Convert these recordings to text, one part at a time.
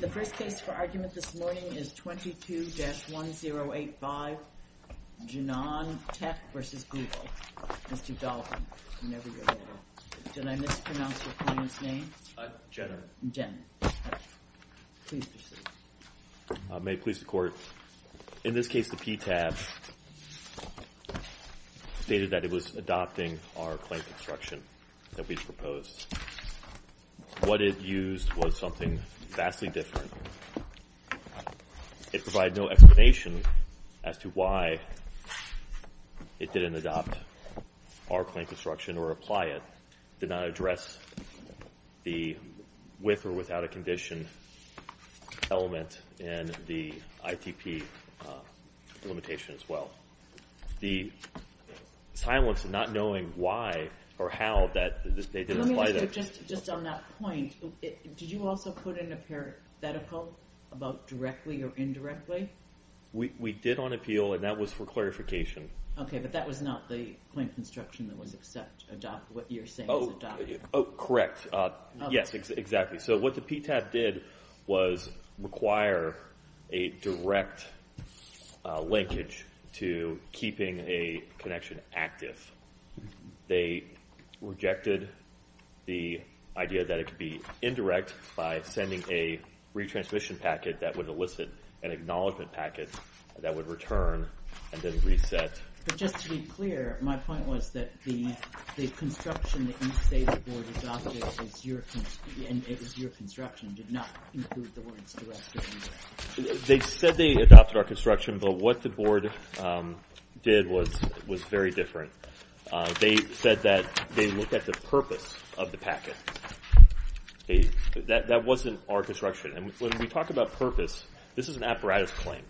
The first case for argument this morning is 22-1085 Janam Tech v. Google. Mr. Dalton, whenever you're ready. Did I mispronounce your client's name? Jenner. Jenner. Please proceed. May it please the Court. In this case, the PTAB stated that it was adopting our claim construction that we proposed. What it used was something vastly different. It provided no explanation as to why it didn't adopt our claim construction or apply it. It did not address the with or without a condition element in the ITP limitation as well. The silence and not knowing why or how that they didn't apply that. Let me ask you just on that point. Did you also put in a parenthetical about directly or indirectly? We did on appeal, and that was for clarification. Okay, but that was not the claim construction that was what you're saying was adopted. Correct. Yes, exactly. So what the PTAB did was require a direct linkage to keeping a connection active. They rejected the idea that it could be indirect by sending a retransmission packet that would elicit an acknowledgement packet that would return and then reset. But just to be clear, my point was that the construction that you say the board adopted and it was your construction did not include the words direct or indirect. They said they adopted our construction, but what the board did was very different. They said that they looked at the purpose of the packet. That wasn't our construction. And when we talk about purpose, this is an apparatus claim.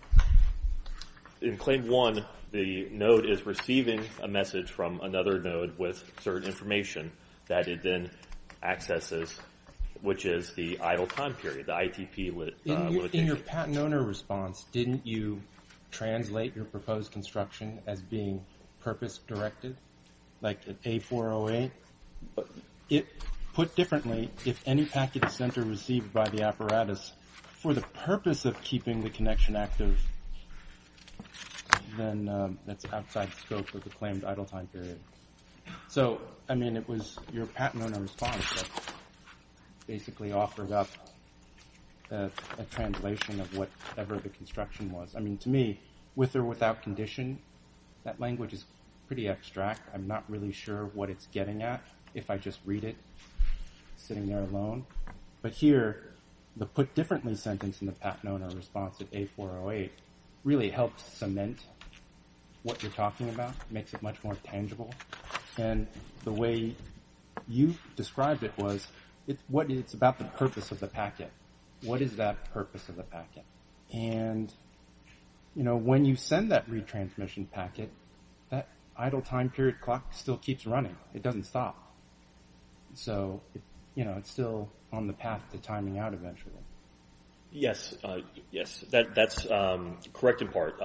In claim one, the node is receiving a message from another node with certain information that it then accesses, which is the idle time period, the ITP. In your patent owner response, didn't you translate your proposed construction as being purpose directed, like an A408? Put differently, if any packet is sent or received by the apparatus for the purpose of keeping the connection active, then that's outside the scope of the claimed idle time period. So, I mean, it was your patent owner response that basically offered up a translation of whatever the construction was. I mean, to me, with or without condition, that language is pretty abstract. I'm not really sure what it's getting at if I just read it sitting there alone. But here, the put differently sentence in the patent owner response of A408 really helped cement what you're talking about, makes it much more tangible. And the way you described it was it's about the purpose of the packet. What is that purpose of the packet? And, you know, when you send that retransmission packet, that idle time period clock still keeps running. It doesn't stop. So, you know, it's still on the path to timing out eventually. Yes, yes, that's correct in part.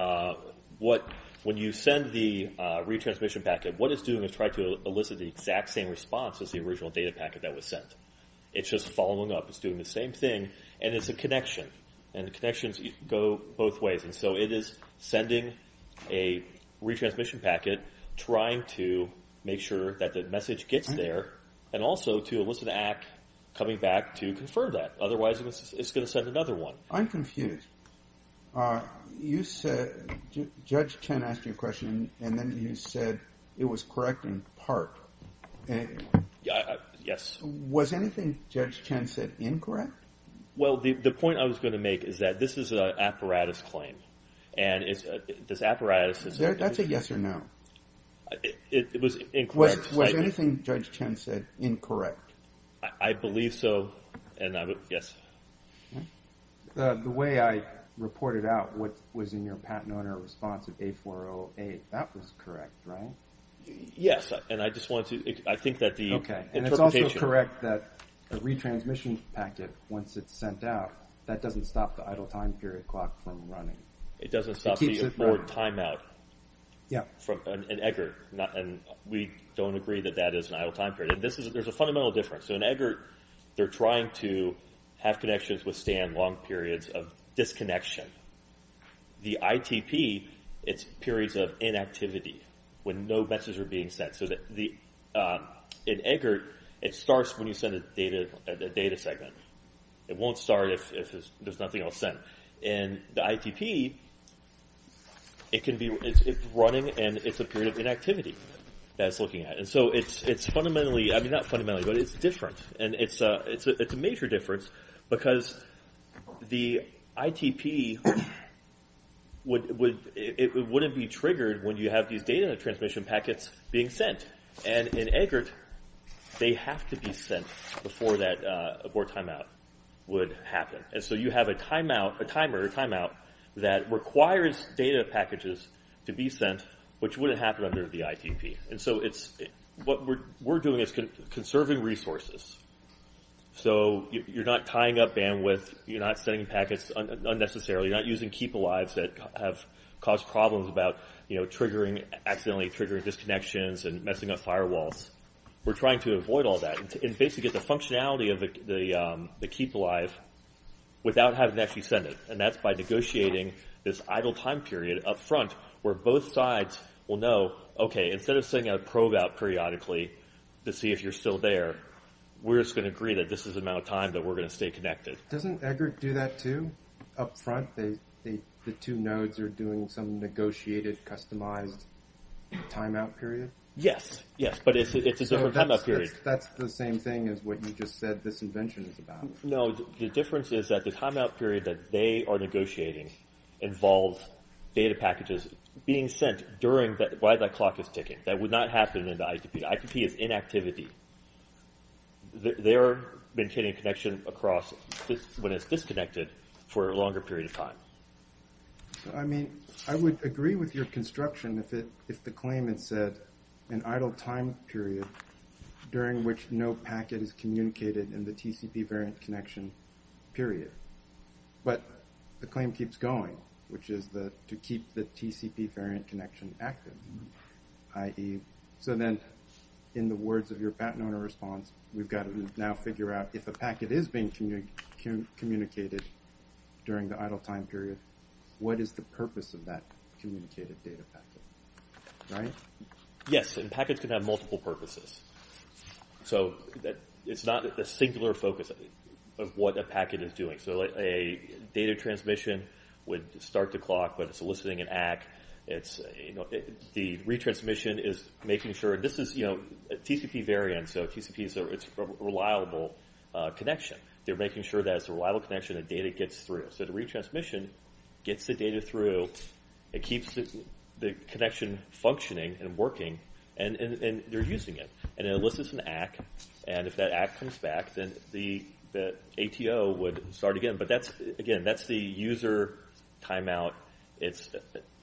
What when you send the retransmission packet, what it's doing is trying to elicit the exact same response as the original data packet that was sent. It's just following up. It's doing the same thing. And it's a connection and the connections go both ways. And so it is sending a retransmission packet, trying to make sure that the message gets there and also to elicit an act coming back to confirm that. Otherwise, it's going to send another one. I'm confused. You said Judge Chen asked you a question and then you said it was correct in part. Yes. Was anything Judge Chen said incorrect? Well, the point I was going to make is that this is an apparatus claim. And it's this apparatus. That's a yes or no. It was incorrect. Was anything Judge Chen said incorrect? I believe so. And yes. The way I reported out what was in your patent owner response of A408, that was correct, right? Yes. Okay. And it's also correct that a retransmission packet, once it's sent out, that doesn't stop the idle time period clock from running. It keeps it running. It doesn't stop the abort timeout in EGERT. And we don't agree that that is an idle time period. And there's a fundamental difference. So in EGERT, they're trying to have connections withstand long periods of disconnection. The ITP, it's periods of inactivity when no messages are being sent. So in EGERT, it starts when you send a data segment. It won't start if there's nothing else sent. In the ITP, it's running and it's a period of inactivity that it's looking at. And so it's fundamentally – I mean, not fundamentally, but it's different. And it's a major difference because the ITP wouldn't be triggered when you have these data transmission packets being sent. And in EGERT, they have to be sent before that abort timeout would happen. And so you have a timeout, a timer, a timeout that requires data packages to be sent, which wouldn't happen under the ITP. And so it's – what we're doing is conserving resources. So you're not tying up bandwidth. You're not sending packets unnecessarily. You're not using keepalives that have caused problems about triggering – accidentally triggering disconnections and messing up firewalls. We're trying to avoid all that and basically get the functionality of the keepalive without having to actually send it. And that's by negotiating this idle time period up front where both sides will know, okay, instead of sending a probe out periodically to see if you're still there, we're just going to agree that this is the amount of time that we're going to stay connected. Doesn't EGERT do that, too, up front? The two nodes are doing some negotiated, customized timeout period? Yes, yes, but it's a different timeout period. So that's the same thing as what you just said this invention is about. No, the difference is that the timeout period that they are negotiating involves data packages being sent during – while the clock is ticking. That would not happen in the ITP. ITP is inactivity. They're maintaining connection across when it's disconnected for a longer period of time. I mean, I would agree with your construction if the claim had said an idle time period during which no packet is communicated in the TCP variant connection period. But the claim keeps going, which is to keep the TCP variant connection active. So then in the words of your patent owner response, we've got to now figure out if a packet is being communicated during the idle time period, what is the purpose of that communicated data packet, right? Yes, and packets can have multiple purposes. So it's not a singular focus of what a packet is doing. So a data transmission would start the clock, but it's eliciting an ACK. The retransmission is making sure – this is a TCP variant, so TCP is a reliable connection. They're making sure that it's a reliable connection that data gets through. So the retransmission gets the data through, it keeps the connection functioning and working, and they're using it. And it elicits an ACK, and if that ACK comes back, then the ATO would start again. But that's – again, that's the user timeout. It's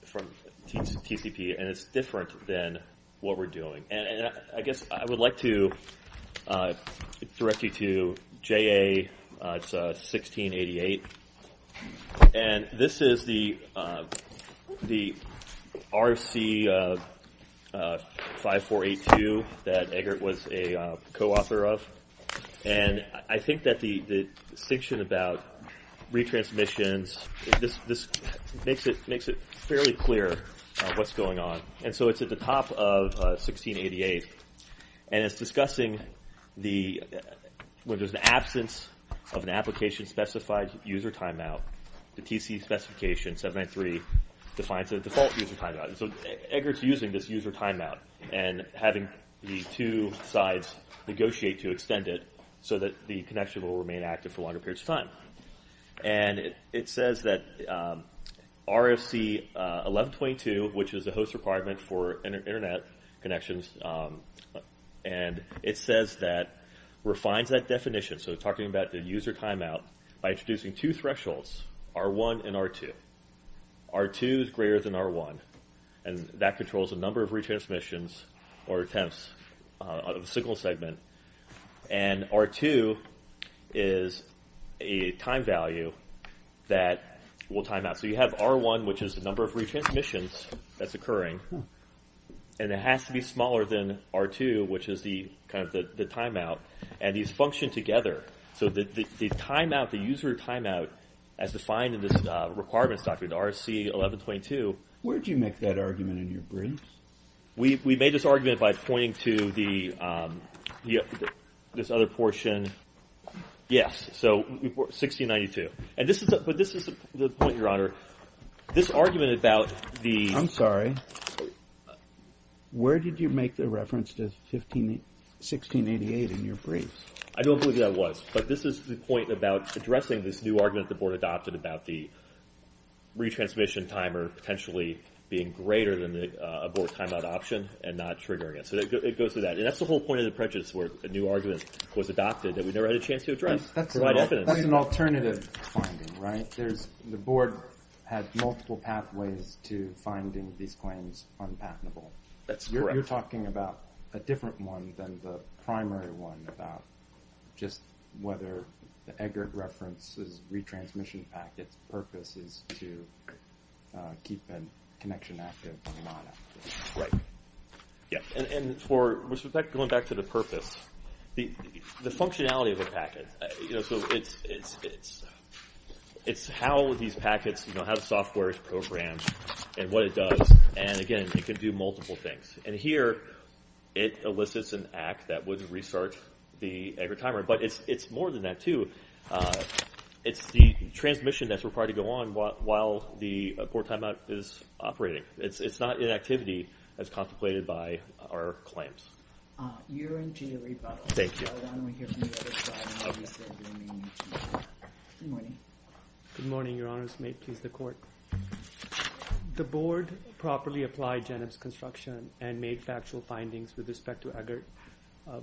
from TCP, and it's different than what we're doing. And I guess I would like to direct you to JA1688, and this is the RC5482 that Eggert was a co-author of. And I think that the distinction about retransmissions – this makes it fairly clear what's going on. And so it's at the top of 1688, and it's discussing the – when there's an absence of an application-specified user timeout, the TC specification, 793, defines a default user timeout. So Eggert's using this user timeout and having the two sides negotiate to extend it so that the connection will remain active for longer periods of time. And it says that RFC1122, which is a host requirement for Internet connections, and it says that – refines that definition, so talking about the user timeout, by introducing two thresholds, R1 and R2. R2 is greater than R1, and that controls the number of retransmissions or attempts of a signal segment. And R2 is a time value that will timeout. So you have R1, which is the number of retransmissions that's occurring, and it has to be smaller than R2, which is the – kind of the timeout. And these function together. So the timeout, the user timeout, as defined in this requirements document, RFC1122. Where did you make that argument in your briefs? We made this argument by pointing to the – this other portion. Yes, so 1692. And this is – but this is the point, Your Honor. This argument about the – I'm sorry. Where did you make the reference to 1688 in your briefs? I don't believe that was. But this is the point about addressing this new argument the board adopted about the retransmission timer potentially being greater than a board timeout option and not triggering it. So it goes to that. And that's the whole point of the prejudice, where a new argument was adopted that we never had a chance to address. That's an alternative finding, right? There's – the board had multiple pathways to finding these claims unpatentable. That's correct. You're talking about a different one than the primary one about just whether the aggregate reference is retransmission packets. The purpose is to keep a connection active and not active. Right. Yeah. And for – going back to the purpose, the functionality of the packet – so it's how these packets – how the software is programmed and what it does. And, again, it can do multiple things. And here it elicits an act that would restart the aggregate timer. But it's more than that too. It's the transmission that's required to go on while the board timeout is operating. It's not inactivity as contemplated by our claims. Yiran, do you have a rebuttal? Thank you. I don't want to hear from you. Good morning. Good morning, Your Honors. May it please the Court. The board properly applied Jeneb's construction and made factual findings with respect to aggregate.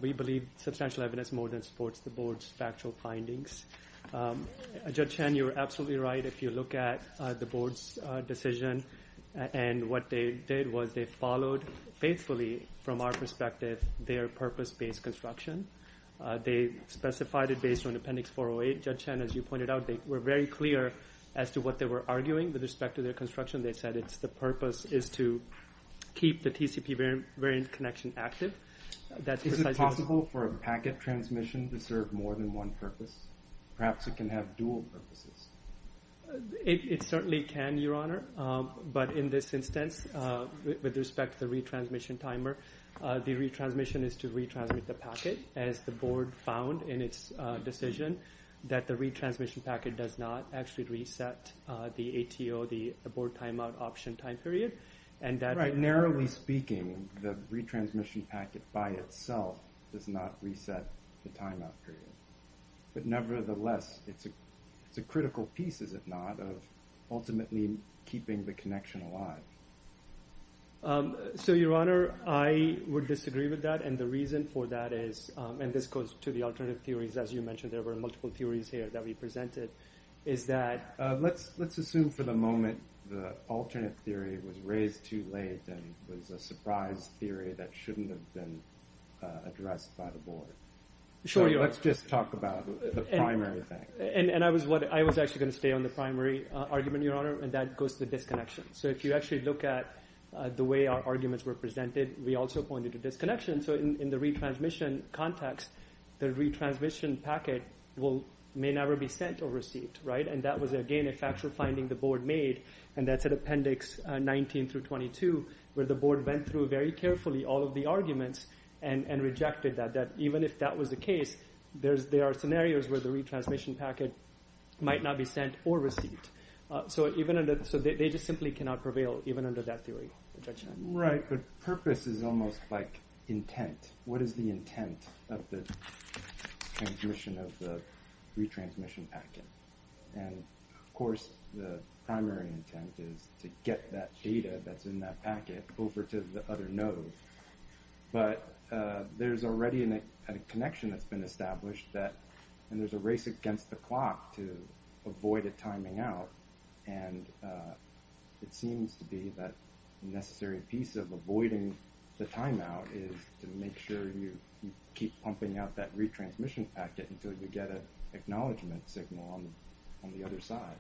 We believe substantial evidence more than supports the board's factual findings. Judge Chen, you're absolutely right if you look at the board's decision. And what they did was they followed faithfully, from our perspective, their purpose-based construction. They specified it based on Appendix 408. Judge Chen, as you pointed out, they were very clear as to what they were arguing with respect to their construction. They said it's the purpose is to keep the TCP variant connection active. Is it possible for a packet transmission to serve more than one purpose? Perhaps it can have dual purposes. It certainly can, Your Honor. But in this instance, with respect to the retransmission timer, the retransmission is to retransmit the packet, as the board found in its decision that the retransmission packet does not actually reset the ATO, the board timeout option time period. Narrowly speaking, the retransmission packet by itself does not reset the timeout period. But nevertheless, it's a critical piece, is it not, of ultimately keeping the connection alive. So, Your Honor, I would disagree with that. And the reason for that is, and this goes to the alternative theories, as you mentioned, there were multiple theories here that we presented, is that… Let's assume for the moment the alternate theory was raised too late and was a surprise theory that shouldn't have been addressed by the board. So let's just talk about the primary thing. And I was actually going to stay on the primary argument, Your Honor, and that goes to the disconnection. So if you actually look at the way our arguments were presented, we also pointed to disconnection. So in the retransmission context, the retransmission packet may never be sent or received, right? And that was, again, a factual finding the board made, and that's at Appendix 19 through 22, where the board went through very carefully all of the arguments and rejected that, that even if that was the case, there are scenarios where the retransmission packet might not be sent or received. So they just simply cannot prevail even under that theory. Right, but purpose is almost like intent. What is the intent of the transmission of the retransmission packet? And, of course, the primary intent is to get that data that's in that packet over to the other node. But there's already a connection that's been established that when there's a race against the clock to avoid it timing out, and it seems to be that necessary piece of avoiding the timeout is to make sure you keep pumping out that retransmission packet until you get an acknowledgment signal on the other side.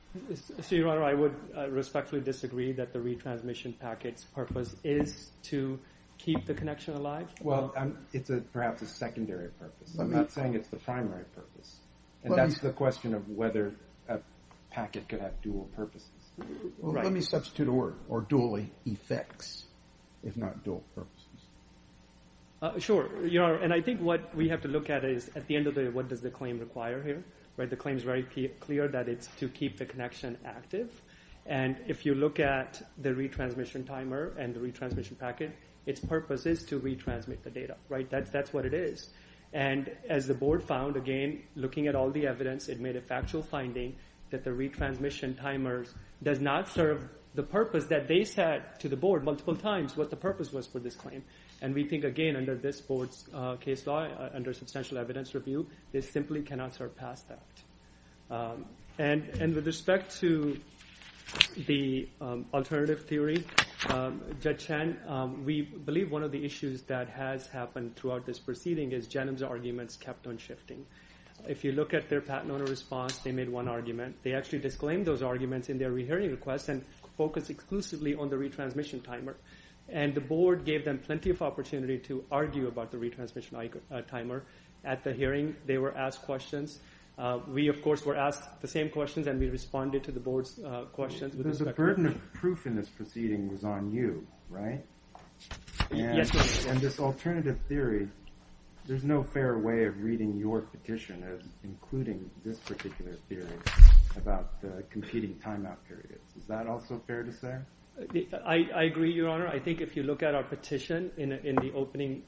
So, Your Honor, I would respectfully disagree that the retransmission packet's purpose is to keep the connection alive. Well, it's perhaps a secondary purpose. I'm not saying it's the primary purpose. And that's the question of whether a packet could have dual purposes. Let me substitute a word, or dually effects, if not dual purposes. Sure. And I think what we have to look at is at the end of the day, what does the claim require here? The claim is very clear that it's to keep the connection active. And if you look at the retransmission timer and the retransmission packet, its purpose is to retransmit the data. That's what it is. And as the Board found, again, looking at all the evidence, it made a factual finding that the retransmission timer does not serve the purpose that they said to the Board multiple times what the purpose was for this claim. And we think, again, under this Board's case law, under substantial evidence review, they simply cannot surpass that. And with respect to the alternative theory, Judge Chan, we believe one of the issues that has happened throughout this proceeding is Genem's arguments kept on shifting. If you look at their patent owner response, they made one argument. They actually disclaimed those arguments in their rehearing request and focused exclusively on the retransmission timer. And the Board gave them plenty of opportunity to argue about the retransmission timer. At the hearing, they were asked questions. We, of course, were asked the same questions, and we responded to the Board's questions. But the burden of proof in this proceeding was on you, right? Yes, Your Honor. And this alternative theory, there's no fair way of reading your petition, including this particular theory about competing timeout periods. Is that also fair to say? I agree, Your Honor. I think if you look at our petition, in the opening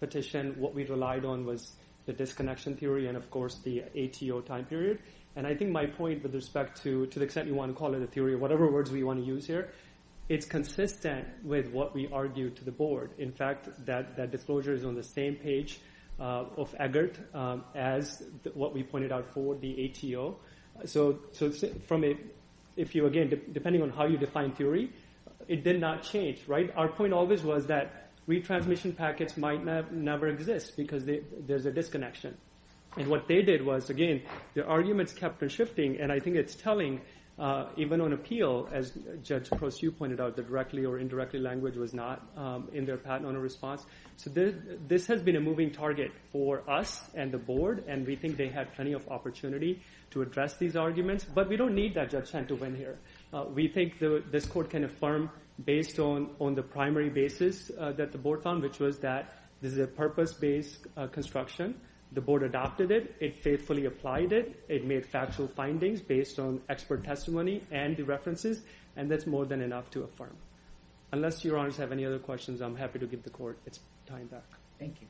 petition, what we relied on was the disconnection theory and, of course, the ATO time period. And I think my point with respect to the extent you want to call it a theory or whatever words we want to use here, it's consistent with what we argued to the Board. In fact, that disclosure is on the same page of EGERT as what we pointed out for the ATO. So, again, depending on how you define theory, it did not change, right? Our point always was that retransmission packets might never exist because there's a disconnection. And what they did was, again, their arguments kept on shifting, and I think it's telling, even on appeal, as Judge Crosu pointed out, the directly or indirectly language was not in their patent owner response. So this has been a moving target for us and the Board, and we think they had plenty of opportunity to address these arguments. But we don't need that judgment to win here. We think this Court can affirm based on the primary basis that the Board found, which was that this is a purpose-based construction. The Board adopted it. It faithfully applied it. It made factual findings based on expert testimony and the references, and that's more than enough to affirm. Unless Your Honors have any other questions, I'm happy to give the Court its time back. Thank you.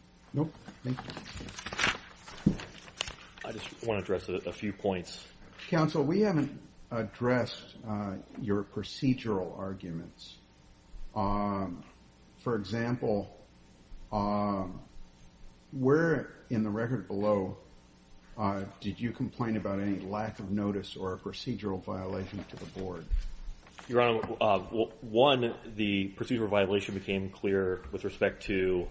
I just want to address a few points. Counsel, we haven't addressed your procedural arguments. For example, where in the record below did you complain about any lack of notice or a procedural violation to the Board? Your Honor, one, the procedural violation became clear with respect to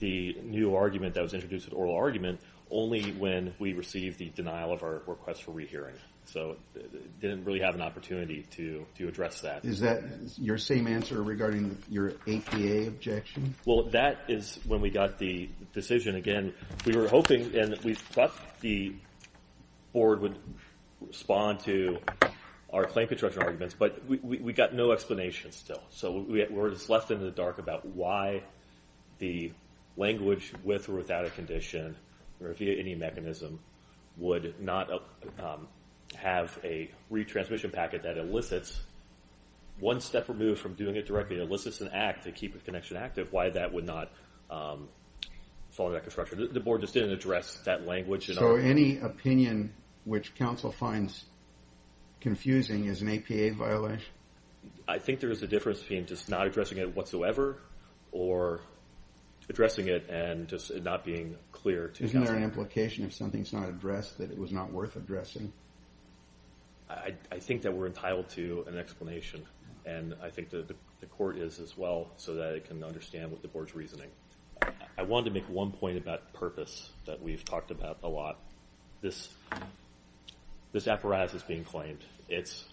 the new argument that was introduced, the oral argument, only when we received the denial of our request for rehearing. So we didn't really have an opportunity to address that. Is that your same answer regarding your APA objection? Well, that is when we got the decision. Again, we were hoping and we thought the Board would respond to our claim construction arguments, but we got no explanation still. So we were just left in the dark about why the language, with or without a condition or via any mechanism, would not have a retransmission packet that elicits one step removed from doing it directly. It elicits an act to keep a connection active. Why that would not follow that construction? The Board just didn't address that language. So any opinion which Counsel finds confusing is an APA violation? I think there is a difference between just not addressing it whatsoever or addressing it and just not being clear to Counsel. Isn't there an implication if something is not addressed that it was not worth addressing? I think that we're entitled to an explanation, and I think the Court is as well so that it can understand what the Board's reasoning. I wanted to make one point about purpose that we've talked about a lot. This apparatus that's being claimed, it's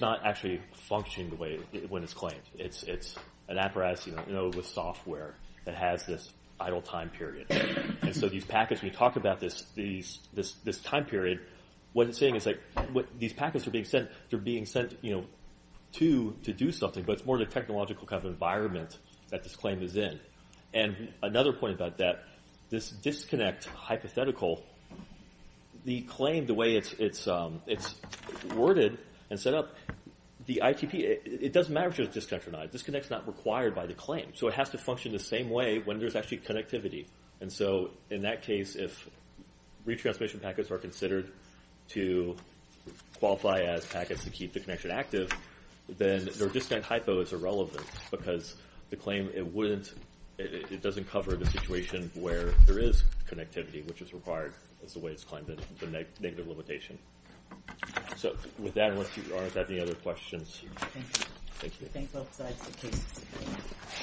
not actually functioning the way when it's claimed. It's an apparatus with software that has this idle time period. And so these packets, when you talk about this time period, what it's saying is these packets are being sent to do something, but it's more the technological kind of environment that this claim is in. And another point about that, this disconnect hypothetical, the claim, the way it's worded and set up, the ITP, it doesn't matter if there's a disconnect or not. A disconnect is not required by the claim. So it has to function the same way when there's actually connectivity. And so in that case, if retransmission packets are considered to qualify as packets to keep the connection active, then the disconnect hypo is irrelevant because the claim, it doesn't cover the situation where there is connectivity, which is required as the way it's claimed, and it's a negative limitation. So with that, unless you all have any other questions. Thank you. Thank you. Thanks, both sides. Thank you.